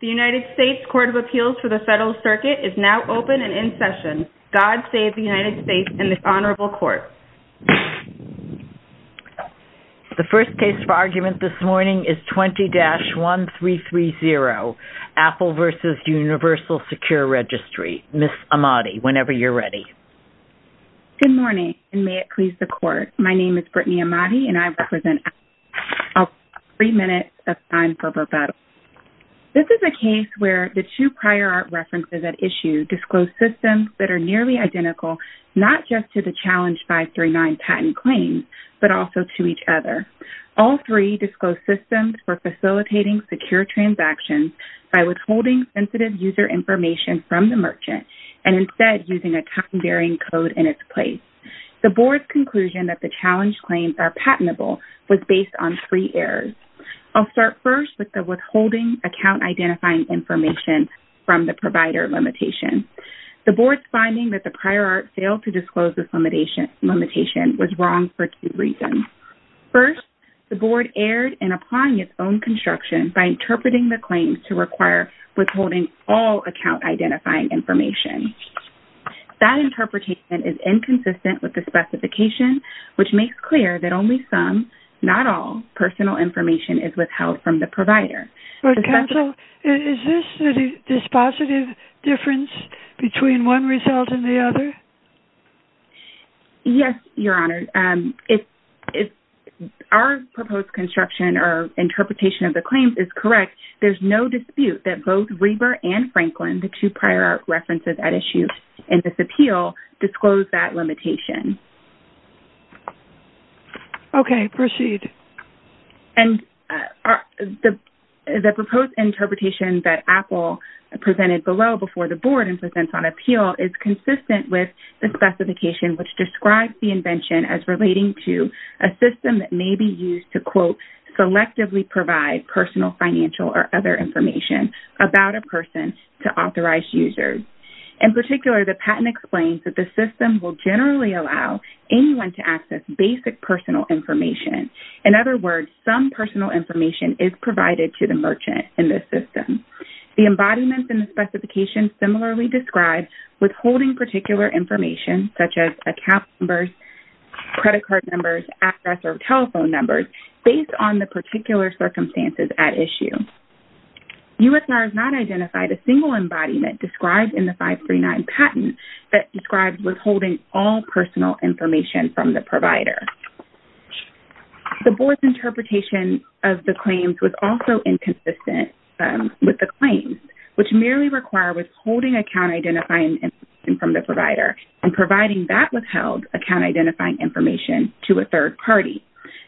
The United States Court of Appeals for the Federal Circuit is now open and in session. God save the United States and the Honorable Court. The first case for argument this morning is 20-1330, Apple v. Universal Secure Registry. Ms. Ahmadi, whenever you're ready. My name is Brittany Ahmadi, and I represent Apple. I'll give you three minutes of time for rebuttal. This is a case where the two prior art references at issue disclose systems that are nearly identical, not just to the Challenge 539 patent claims, but also to each other. All three disclose systems for facilitating secure transactions by withholding sensitive user information from the merchant and instead using a time-varying code in its place. The Board's conclusion that the Challenge claims are patentable was based on three errors. I'll start first with the withholding account-identifying information from the provider limitation. The Board's finding that the prior art failed to disclose this limitation was wrong for two reasons. First, the Board erred in applying its own construction by interpreting the claims to require withholding all account-identifying information. That interpretation is inconsistent with the specification, which makes clear that only some, not all, personal information is withheld from the provider. Counsel, is this a dispositive difference between one result and the other? Yes, Your Honor. If our proposed construction or interpretation of the claims is correct, there's no dispute that both Reber and Franklin, the two prior art references at issue in this appeal, disclose that limitation. Okay, proceed. And the proposed interpretation that Apple presented below before the Board and presents on appeal is consistent with the specification, which describes the invention as relating to a system that may be used to, quote, selectively provide personal, financial, or other information about a person to authorized users. In particular, the patent explains that the system will generally allow anyone to access basic personal information. In other words, some personal information is provided to the merchant in this system. The embodiment in the specification similarly describes withholding particular information, such as account numbers, credit card numbers, address, or telephone numbers, based on the particular circumstances at issue. USR has not identified a single embodiment described in the 539 patent that describes withholding all personal information from the provider. The Board's interpretation of the claims was also inconsistent with the claims, which merely require withholding account-identifying information from the provider and providing that withheld account-identifying information to a third party.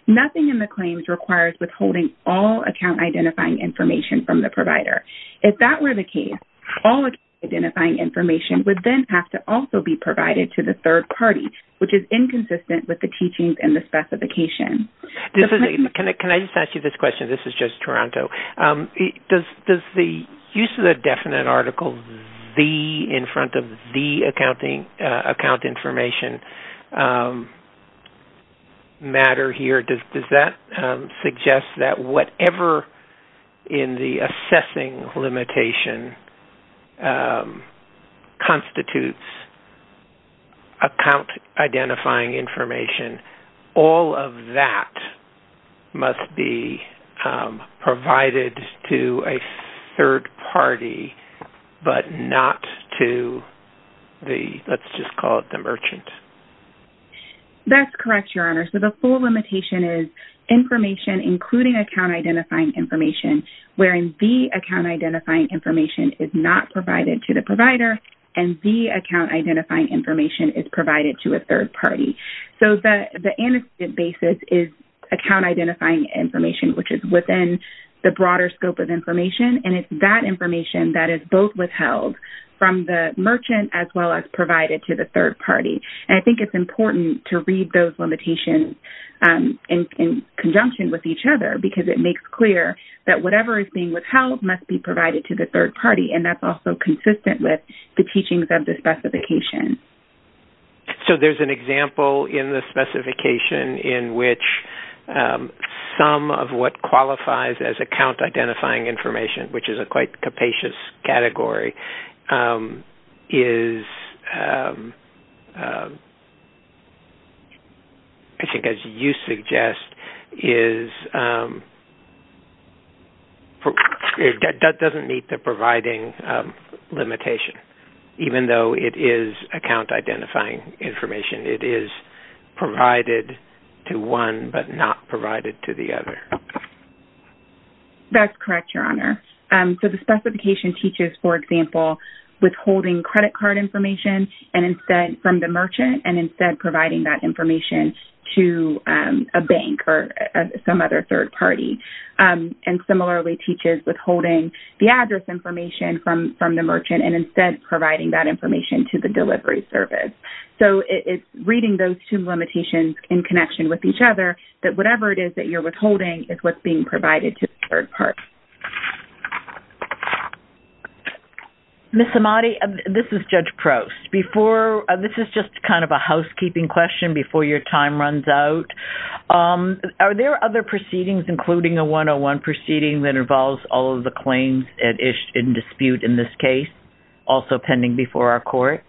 Nothing in the claims requires withholding all account-identifying information from the provider. If that were the case, all account-identifying information would then have to also be provided to the third party, which is inconsistent with the teachings in the specification. Can I just ask you this question? This is just Toronto. Does the use of the definite article, the, in front of the account information matter here? Does that suggest that whatever in the assessing limitation constitutes account-identifying information, all of that must be provided to a third party but not to the, let's just call it the merchant? That's correct, Your Honor. So the full limitation is information, including account-identifying information, wherein the account-identifying information is not provided to the provider and the account-identifying information is provided to a third party. So the antecedent basis is account-identifying information, which is within the broader scope of information, and it's that information that is both withheld from the merchant as well as provided to the third party. And I think it's important to read those limitations in conjunction with each other because it makes clear that whatever is being withheld must be provided to the third party, and that's also consistent with the teachings of the specification. So there's an example in the specification in which some of what qualifies as account-identifying information, which is a quite capacious category, is, I think as you suggest, is that doesn't meet the providing limitation. Even though it is account-identifying information, it is provided to one but not provided to the other. That's correct, Your Honor. So the specification teaches, for example, withholding credit card information from the merchant and instead providing that information to a bank or some other third party, and similarly teaches withholding the address information from the merchant and instead providing that information to the delivery service. So it's reading those two limitations in connection with each other that whatever it is that you're withholding is what's being provided to the third party. Ms. Amati, this is Judge Prost. This is just kind of a housekeeping question before your time runs out. Are there other proceedings, including a 101 proceeding, that involves all of the claims in dispute in this case, also pending before our court?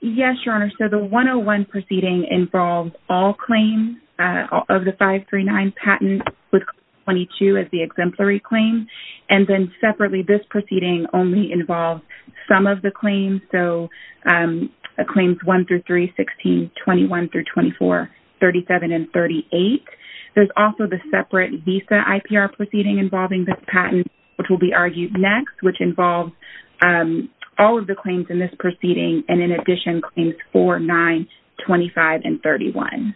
Yes, Your Honor. So the 101 proceeding involves all claims of the 539 patent with 22 as the exemplary claim, and then separately this proceeding only involves some of the claims, so claims 1 through 3, 16, 21 through 24, 37, and 38. There's also the separate visa IPR proceeding involving this patent, which will be argued next, which involves all of the claims in this proceeding, and in addition claims 4, 9, 25, and 31.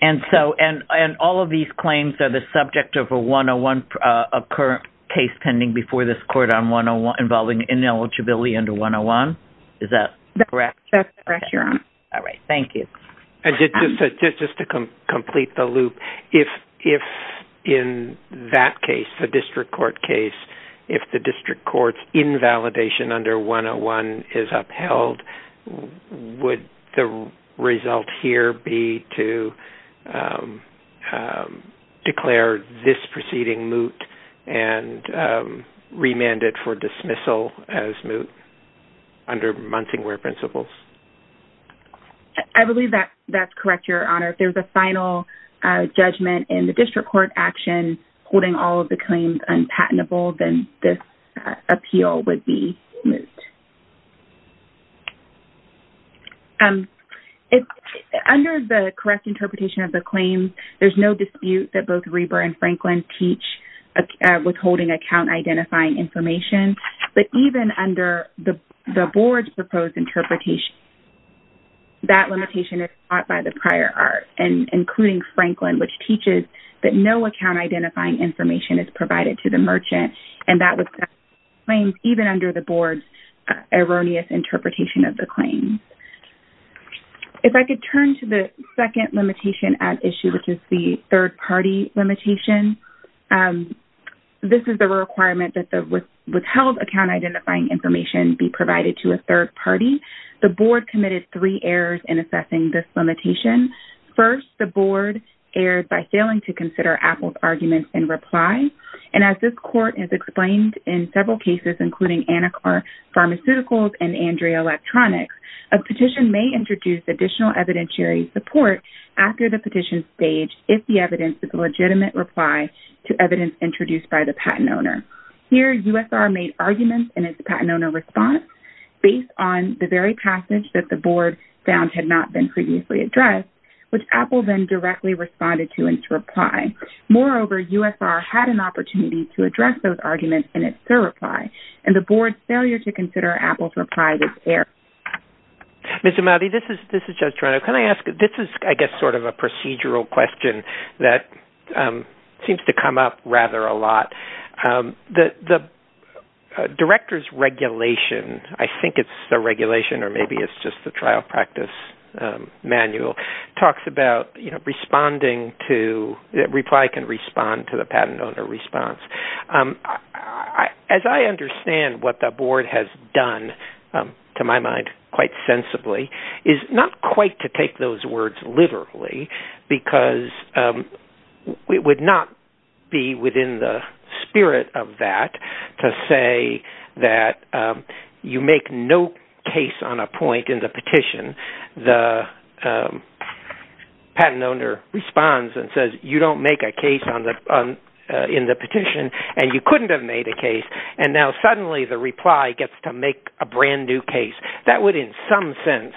And all of these claims are the subject of a 101, a current case pending before this court involving ineligibility under 101? Is that correct? That's correct, Your Honor. All right, thank you. And just to complete the loop, if in that case, the district court case, if the district court's invalidation under 101 is upheld, would the result here be to declare this proceeding moot and remand it for dismissal as moot under Munsingware principles? I believe that's correct, Your Honor. If there's a final judgment in the district court action holding all of the claims unpatentable, then this appeal would be moot. Under the correct interpretation of the claims, there's no dispute that both Reber and Franklin teach withholding account identifying information, but even under the board's proposed interpretation, that limitation is sought by the prior art, including Franklin, which teaches that no account identifying information is provided to the merchant, and that was found in the claims even under the board's erroneous interpretation of the claims. If I could turn to the second limitation at issue, which is the third-party limitation, this is the requirement that the withheld account identifying information be provided to a third party. The board committed three errors in assessing this limitation. First, the board erred by failing to consider Apple's arguments in reply, and as this court has explained in several cases, including Anacar Pharmaceuticals and Andrea Electronics, a petition may introduce additional evidentiary support after the petition stage if the evidence is a legitimate reply to evidence introduced by the patent owner. Here, USR made arguments in its patent owner response based on the very passage that the board found had not been previously addressed, which Apple then directly responded to in its reply. Moreover, USR had an opportunity to address those arguments in its third reply, and the board's failure to consider Apple's reply was errored. Judge Toronto, can I ask, this is I guess sort of a procedural question that seems to come up rather a lot. The director's regulation, I think it's the regulation or maybe it's just the trial practice manual, talks about that reply can respond to the patent owner response. As I understand what the board has done, to my mind quite sensibly, is not quite to take those words literally, because it would not be within the spirit of that to say that you make no case on a point in the petition. The patent owner responds and says, you don't make a case in the petition, and you couldn't have made a case, and now suddenly the reply gets to make a brand new case. That would in some sense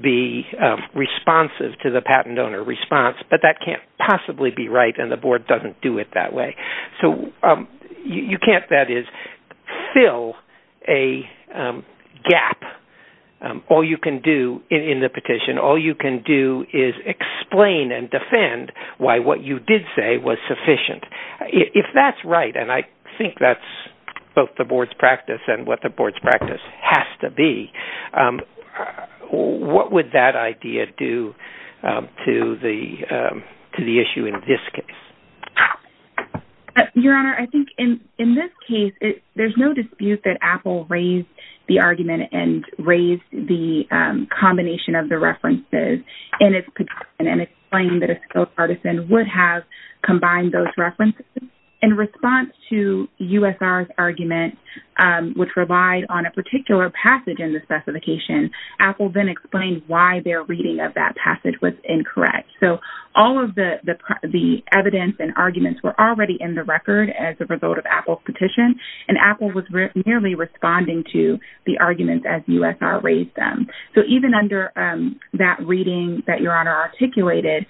be responsive to the patent owner response, but that can't possibly be right, and the board doesn't do it that way. So you can't, that is, fill a gap. All you can do in the petition, all you can do is explain and defend why what you did say was sufficient. If that's right, and I think that's both the board's practice and what the board's practice has to be, what would that idea do to the issue in this case? Your Honor, I think in this case, there's no dispute that Apple raised the argument and raised the combination of the references in its petition and explained that a skilled artisan would have combined those references. In response to USR's argument, which relied on a particular passage in the specification, Apple then explained why their reading of that passage was incorrect. So all of the evidence and arguments were already in the record as a result of Apple's petition, and Apple was merely responding to the arguments as USR raised them. So even under that reading that Your Honor articulated,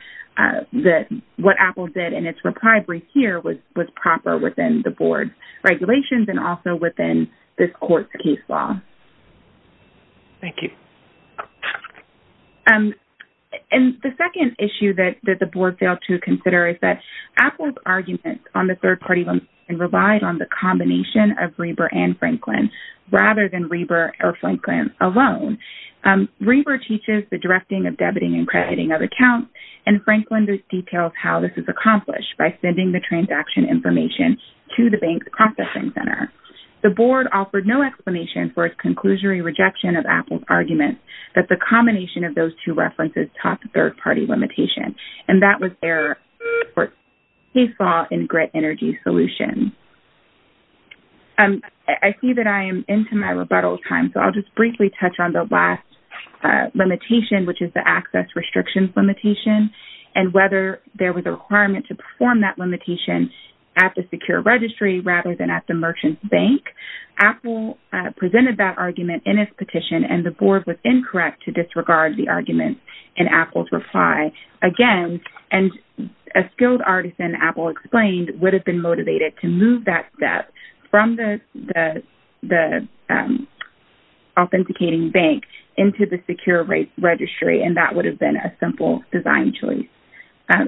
what Apple did in its reply brief here was proper within the board's regulations and also within this court's case law. Thank you. And the second issue that the board failed to consider is that Apple's argument on the third-party and relied on the combination of Reber and Franklin rather than Reber or Franklin alone. Reber teaches the directing of debiting and crediting of accounts, and Franklin details how this is accomplished by sending the transaction information to the bank's processing center. The board offered no explanation for its conclusory rejection of Apple's argument that the combination of those two references taught the third-party limitation, and that was their court's case law in grid energy solutions. I see that I am into my rebuttal time, so I'll just briefly touch on the last limitation, which is the access restrictions limitation and whether there was a requirement to perform that limitation at the secure registry rather than at the merchant's bank. Apple presented that argument in its petition, and the board was incorrect to disregard the argument in Apple's reply. Again, a skilled artisan, Apple explained, would have been motivated to move that step from the authenticating bank into the secure registry, and that would have been a simple design choice.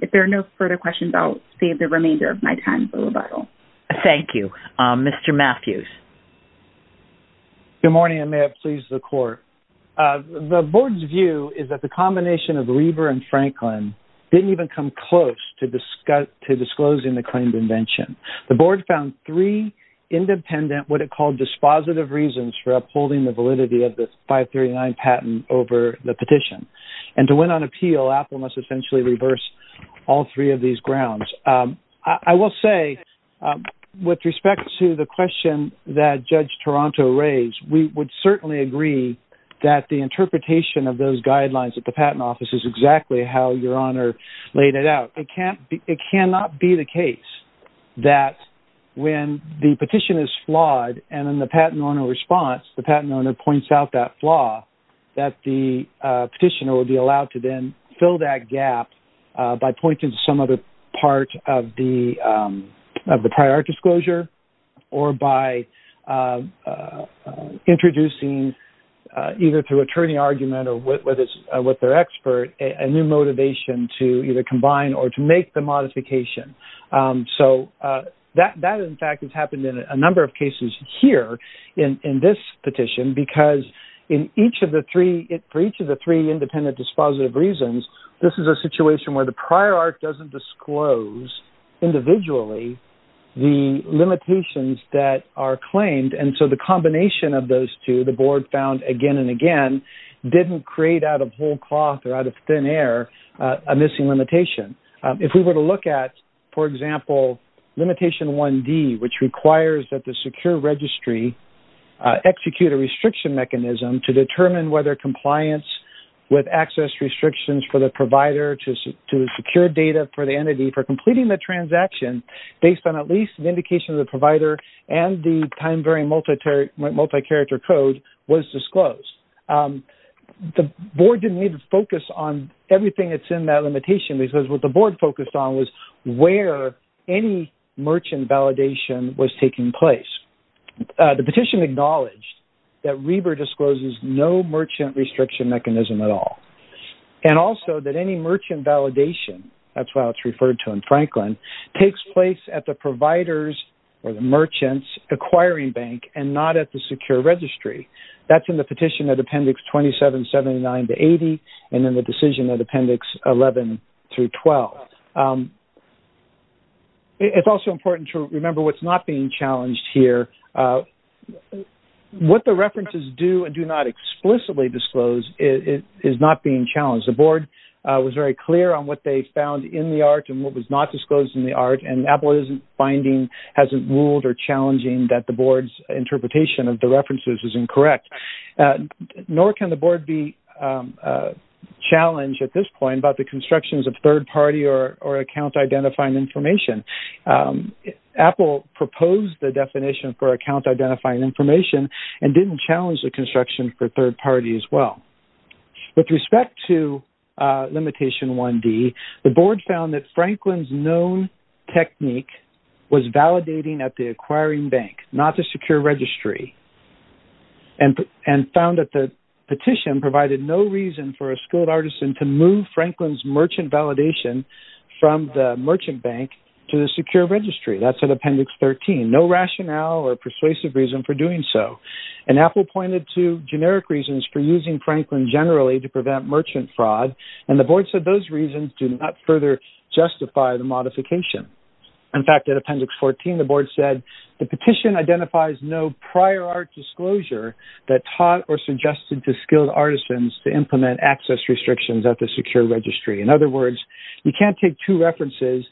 If there are no further questions, I'll save the remainder of my time for rebuttal. Thank you. Mr. Matthews. Good morning, and may it please the court. The board's view is that the combination of Reber and Franklin didn't even come close to disclosing the claimed invention. The board found three independent, what it called dispositive reasons for upholding the validity of the 539 patent over the petition, and to win on appeal, Apple must essentially reverse all three of these grounds. I will say, with respect to the question that Judge Toronto raised, we would certainly agree that the interpretation of those guidelines at the patent office is exactly how Your Honor laid it out. It cannot be the case that when the petition is flawed, and in the patent owner response, the patent owner points out that flaw, that the petitioner would be allowed to then fill that gap by pointing to some other part of the prior disclosure or by introducing, either through attorney argument or with their expert, a new motivation to either combine or to make the modification. So that, in fact, has happened in a number of cases here in this petition because for each of the three independent dispositive reasons, this is a situation where the prior art doesn't disclose individually the limitations that are claimed, and so the combination of those two, the board found again and again, didn't create out of whole cloth or out of thin air a missing limitation. If we were to look at, for example, limitation 1D, which requires that the secure registry execute a restriction mechanism to determine whether compliance with access restrictions for the provider to secure data for the entity for completing the transaction based on at least an indication of the provider and the time-varying multi-character code was disclosed. The board didn't even focus on everything that's in that limitation because what the board focused on was where any merchant validation was taking place. The petition acknowledged that Reber discloses no merchant restriction mechanism at all and also that any merchant validation, that's why it's referred to in Franklin, takes place at the provider's or the merchant's acquiring bank and not at the secure registry. That's in the petition at Appendix 2779-80 and in the decision at Appendix 11-12. It's also important to remember what's not being challenged here. What the references do and do not explicitly disclose is not being challenged. The board was very clear on what they found in the art and what was not disclosed in the art and Apple isn't finding, hasn't ruled or challenging that the board's interpretation of the references is incorrect. Nor can the board be challenged at this point about the constructions of third party or account identifying information. Apple proposed the definition for account identifying information and didn't challenge the construction for third party as well. With respect to limitation 1D, the board found that Franklin's known technique was validating at the acquiring bank, not the secure registry and found that the petition provided no reason for a skilled artisan to move Franklin's merchant validation from the merchant bank to the secure registry. That's at Appendix 13. No rationale or persuasive reason for doing so. And Apple pointed to generic reasons for using Franklin generally to prevent merchant fraud and the board said those reasons do not further justify the modification. In fact, at Appendix 14, the board said, the petition identifies no prior art disclosure that taught or suggested to skilled artisans to implement access restrictions at the secure registry. In other words, you can't take two references,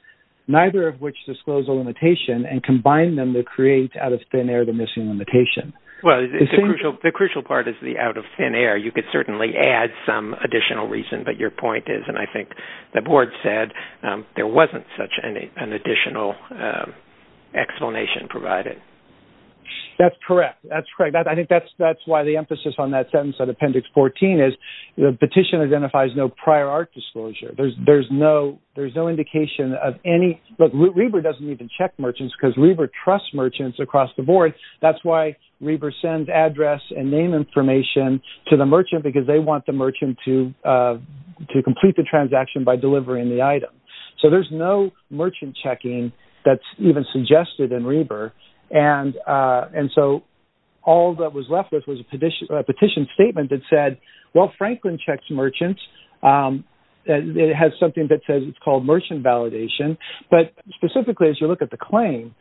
neither of which disclose a limitation, and combine them to create out of thin air the missing limitation. Well, the crucial part is the out of thin air. You could certainly add some additional reason, but your point is, and I think the board said, there wasn't such an additional explanation provided. That's correct. I think that's why the emphasis on that sentence at Appendix 14 is, the petition identifies no prior art disclosure. There's no indication of any, but Reber doesn't even check merchants because Reber trusts merchants across the board. That's why Reber sends address and name information to the merchant because they want the merchant to complete the transaction by delivering the item. So there's no merchant checking that's even suggested in Reber. And so all that was left was a petition statement that said, well, Franklin checks merchants. It has something that says it's called merchant validation. But specifically as you look at the claim,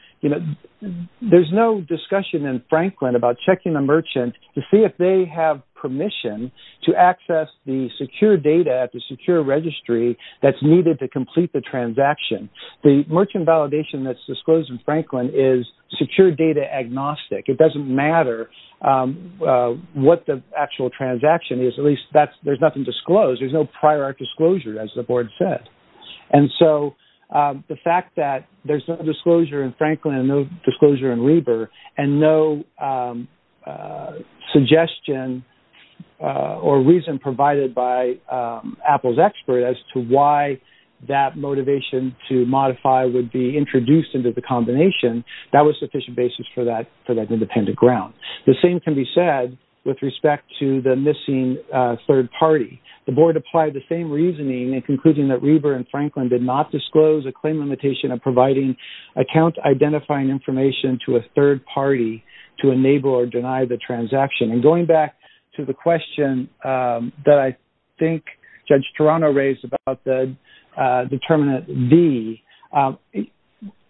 there's no discussion in Franklin about checking the merchant to see if they have permission to access the secure data at the secure registry that's needed to complete the transaction. The merchant validation that's disclosed in Franklin is secure data agnostic. It doesn't matter what the actual transaction is. At least there's nothing disclosed. There's no prior art disclosure, as the board said. And so the fact that there's no disclosure in Franklin and no disclosure in Reber and no suggestion or reason provided by Apple's expert as to why that motivation to modify would be introduced into the combination, that was sufficient basis for that independent ground. The same can be said with respect to the missing third party. The board applied the same reasoning in concluding that Reber and Franklin did not disclose a claim limitation of providing account identifying information to a third party to enable or deny the transaction. And going back to the question that I think Judge Toronto raised about the determinant V,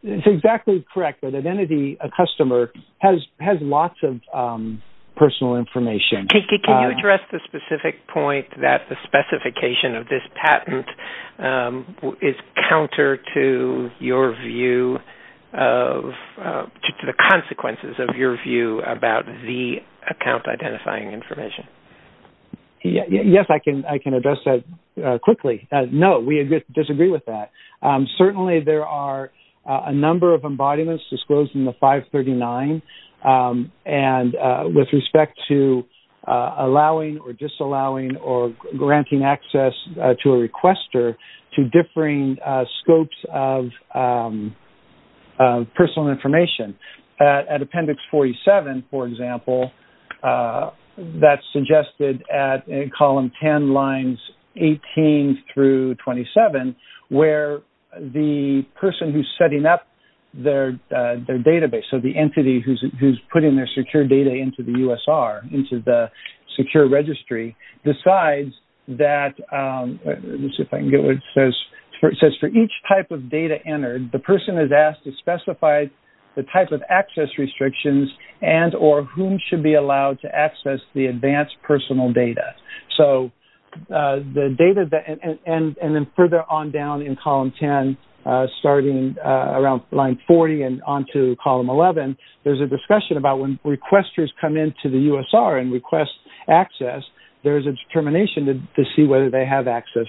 it's exactly correct that an entity, a customer, has lots of personal information. Can you address the specific point that the specification of this patent is counter to your view of the consequences of your view about the account identifying information? Yes, I can address that quickly. No, we disagree with that. Certainly there are a number of embodiments disclosed in the 539 with respect to allowing or disallowing or granting access to a requester to differing scopes of personal information. At appendix 47, for example, that's suggested at column 10, lines 18 through 27, where the person who's setting up their database, so the entity who's putting their secure data into the USR, into the secure registry, decides that, let's see if I can get what it says, it says for each type of data entered, the person is asked to specify the type of access restrictions and or whom should be allowed to access the advanced personal data. So the data, and then further on down in column 10, starting around line 40 and on to column 11, there's a discussion about when requesters come into the USR and request access, there's a determination to see whether they have access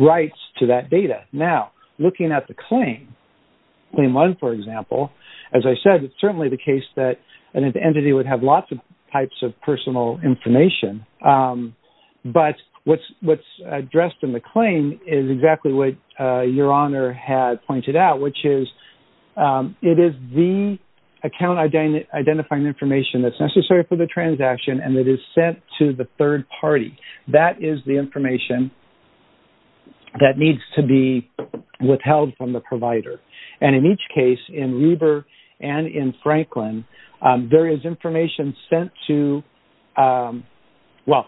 rights to that data. Now, looking at the claim, claim one, for example, as I said, it's certainly the case that an entity would have lots of types of personal information, but what's addressed in the claim is exactly what Your Honor had pointed out, which is it is the account identifying information that's necessary for the transaction and it is sent to the third party. That is the information that needs to be withheld from the provider. And in each case, in Reber and in Franklin, there is information sent to, well,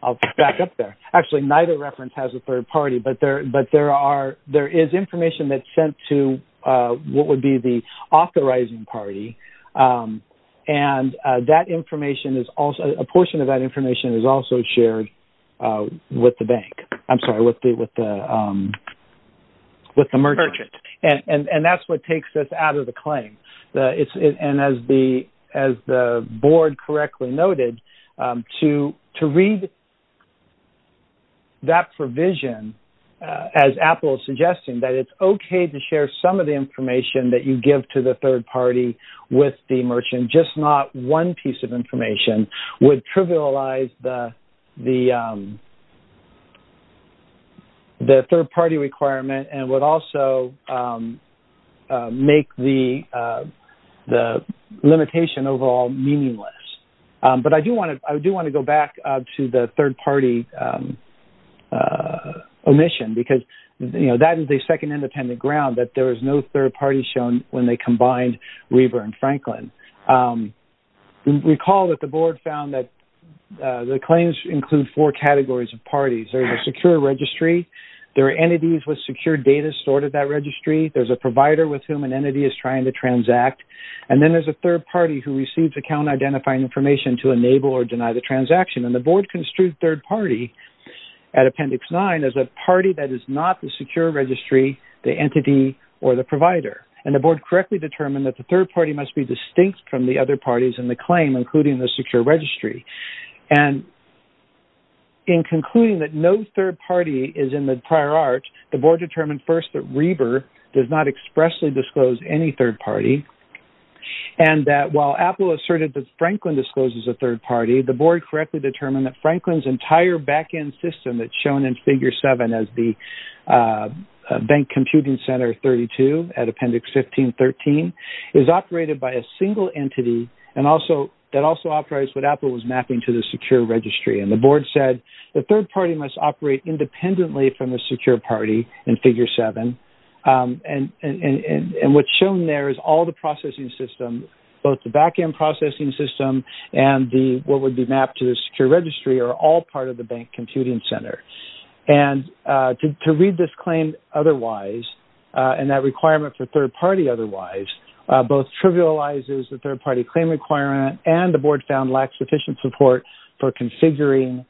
I'll back up there. Actually, neither reference has a third party, but there is information that's sent to what would be the authorizing party, and a portion of that information is also shared with the bank. I'm sorry, with the merchant. And that's what takes us out of the claim. And as the board correctly noted, to read that provision, as Apple is suggesting, that it's okay to share some of the information that you give to the third party with the merchant, just not one piece of information, would trivialize the third party requirement and would also make the limitation overall meaningless. But I do want to go back to the third party omission, because that is the second independent ground, that there is no third party shown when they combined Reber and Franklin. Recall that the board found that the claims include four categories of parties. There's a secure registry. There are entities with secure data stored at that registry. There's a provider with whom an entity is trying to transact. And then there's a third party who receives account-identifying information to enable or deny the transaction. And the board construed third party at Appendix 9 as a party that is not the secure registry, the entity, or the provider. And the board correctly determined that the third party must be distinct from the other parties in the claim, including the secure registry. And in concluding that no third party is in the prior art, the board determined first that Reber does not expressly disclose any third party and that while Apple asserted that Franklin discloses a third party, the board correctly determined that Franklin's entire back-end system that's shown in Figure 7 as the Bank Computing Center 32 at Appendix 1513 is operated by a single entity that also operates what Apple was mapping to the secure registry. And the board said the third party must operate independently from the secure party in Figure 7. And what's shown there is all the processing system, both the back-end processing system and what would be mapped to the secure registry are all part of the Bank Computing Center. And to read this claim otherwise and that requirement for third party otherwise both trivializes the third party claim requirement and the board found lacks sufficient support for configuring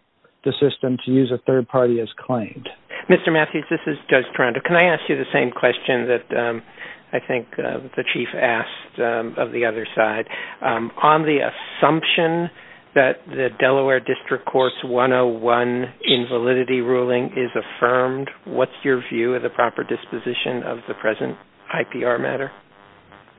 the system to use a third party as claimed. Mr. Matthews, this is Judge Toronto. Can I ask you the same question that I think the chief asked of the other side? On the assumption that the Delaware District Courts 101 invalidity ruling is affirmed, what's your view of the proper disposition of the present IPR matter?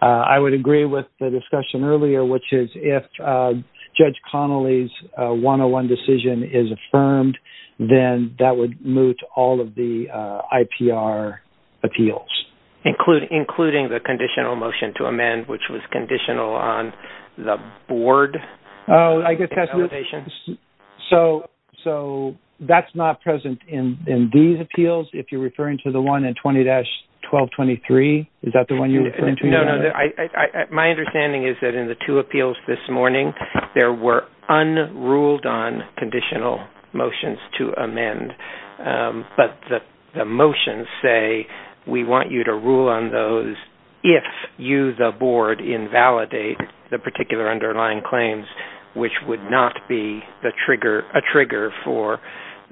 I would agree with the discussion earlier, which is if Judge Connolly's 101 decision is affirmed, then that would moot all of the IPR appeals. Including the conditional motion to amend, which was conditional on the board validation. So that's not present in these appeals, if you're referring to the one in 20-1223? Is that the one you're referring to? No, no. My understanding is that in the two appeals this morning, there were unruled on conditional motions to amend. But the motions say, we want you to rule on those if you, the board, invalidate the particular underlying claims, which would not be a trigger for,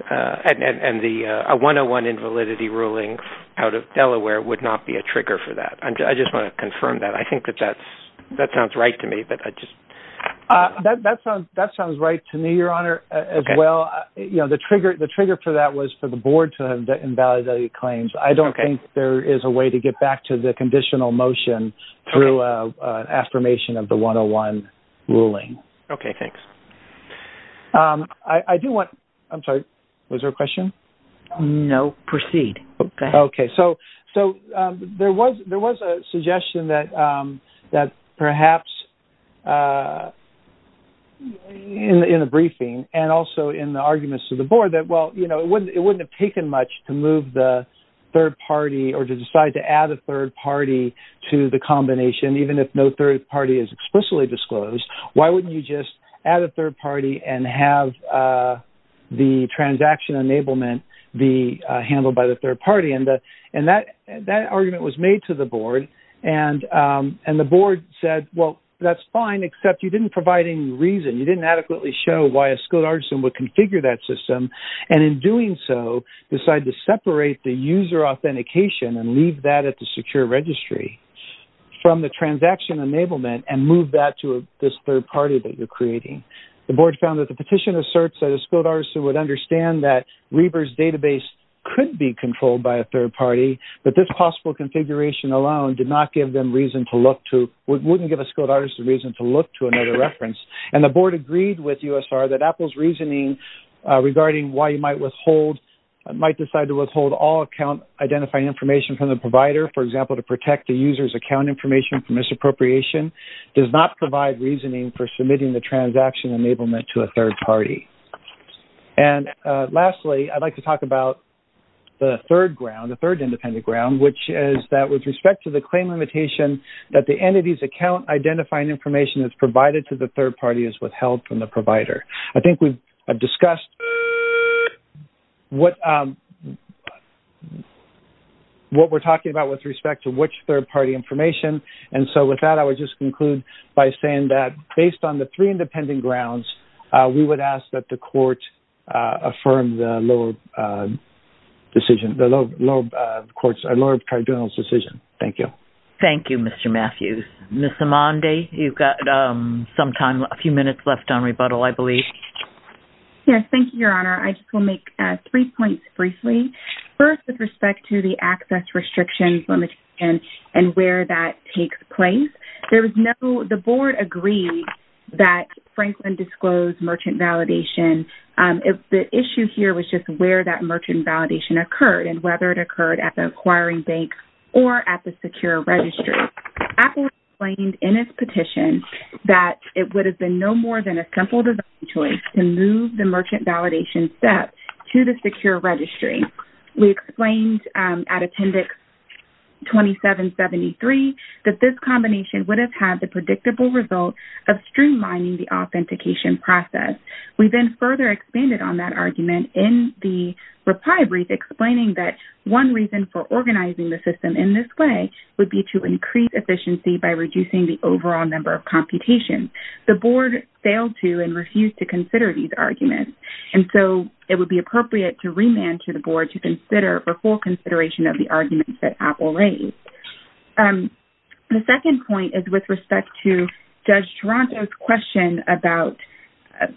and the 101 invalidity ruling out of Delaware would not be a trigger for that. I just want to confirm that. I think that that sounds right to me. That sounds right to me, Your Honor, as well. The trigger for that was for the board to invalidate claims. I don't think there is a way to get back to the conditional motion through an affirmation of the 101 ruling. Okay, thanks. I do want, I'm sorry, was there a question? No, proceed. Okay, so there was a suggestion that perhaps in the briefing and also in the arguments of the board that, well, it wouldn't have taken much to move the third party or to decide to add a third party to the combination, even if no third party is explicitly disclosed. Why wouldn't you just add a third party and have the transaction enablement be handled by the third party? And that argument was made to the board, and the board said, well, that's fine, except you didn't provide any reason. You didn't adequately show why a skilled artisan would configure that system. And in doing so, decide to separate the user authentication and leave that at the secure registry from the transaction enablement and move that to this third party that you're creating. The board found that the petition asserts that a skilled artisan would understand that Reber's database could be controlled by a third party, but this possible configuration alone did not give them reason to look to, wouldn't give a skilled artisan reason to look to another reference. And the board agreed with USR that Apple's reasoning regarding why you might decide to withhold all account-identifying information from the provider, for example, to protect the user's account information from misappropriation, does not provide reasoning for submitting the transaction enablement to a third party. And lastly, I'd like to talk about the third ground, the third independent ground, which is that with respect to the claim limitation that the entity's account-identifying information that's provided to the third party is withheld from the provider. I think we've discussed what we're talking about with respect to which third party information, and so with that I would just conclude by saying that based on the three independent grounds, we would ask that the court affirm the lower tribunal's decision. Thank you. Thank you, Mr. Matthews. Ms. Imandi, you've got some time, a few minutes left on rebuttal, I believe. Yes, thank you, Your Honor. I just want to make three points briefly. First, with respect to the access restrictions limitation and where that takes place, the board agreed that Franklin disclosed merchant validation. The issue here was just where that merchant validation occurred and whether it occurred at the acquiring bank or at the secure registry. Apple explained in its petition that it would have been no more than a simple design choice to move the merchant validation step to the secure registry. We explained at Attendix 2773 that this combination would have had the predictable result of streamlining the authentication process. We then further expanded on that argument in the reply brief, explaining that one reason for organizing the system in this way would be to increase efficiency by reducing the overall number of computations. The board failed to and refused to consider these arguments, and so it would be appropriate to remand to the board to consider for full consideration of the arguments that Apple raised. The second point is with respect to Judge Toronto's question about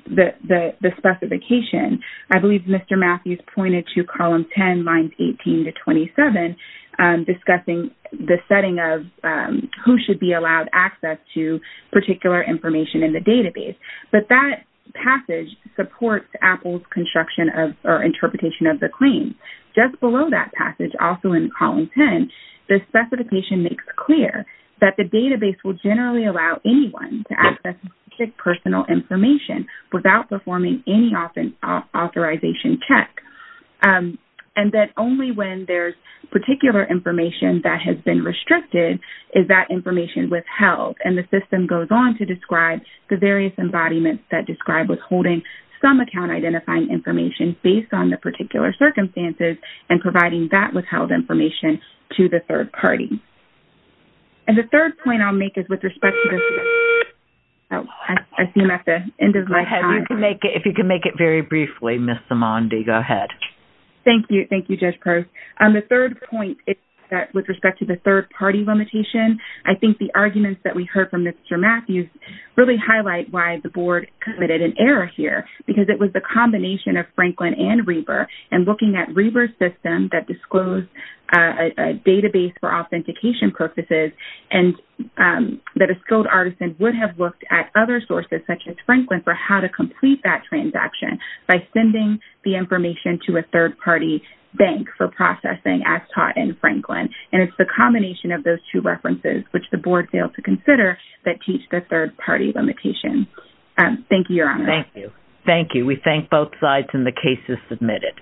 the specification. I believe Mr. Matthews pointed to column 10, lines 18 to 27, discussing the setting of who should be allowed access to particular information in the database. But that passage supports Apple's construction or interpretation of the claim. Just below that passage, also in column 10, the specification makes clear that the database will generally allow anyone to access specific personal information without performing any authorization check, and that only when there's particular information that has been restricted is that information withheld. The system goes on to describe the various embodiments that describe withholding some account-identifying information based on the particular circumstances and providing that withheld information to the third party. The third point I'll make is with respect to the... I see I'm at the end of my time. If you can make it very briefly, Ms. Simondi, go ahead. Thank you, Judge Peirce. The third point is with respect to the third-party limitation. I think the arguments that we heard from Mr. Matthews really highlight why the board committed an error here because it was the combination of Franklin and Reber and looking at Reber's system that disclosed a database for authentication purposes and that a skilled artisan would have looked at other sources, such as Franklin, for how to complete that transaction by sending the information to a third-party bank for processing as taught in Franklin. And it's the combination of those two references, which the board failed to consider, that teach the third-party limitation. Thank you, Your Honor. Thank you. Thank you. We thank both sides, and the case is submitted.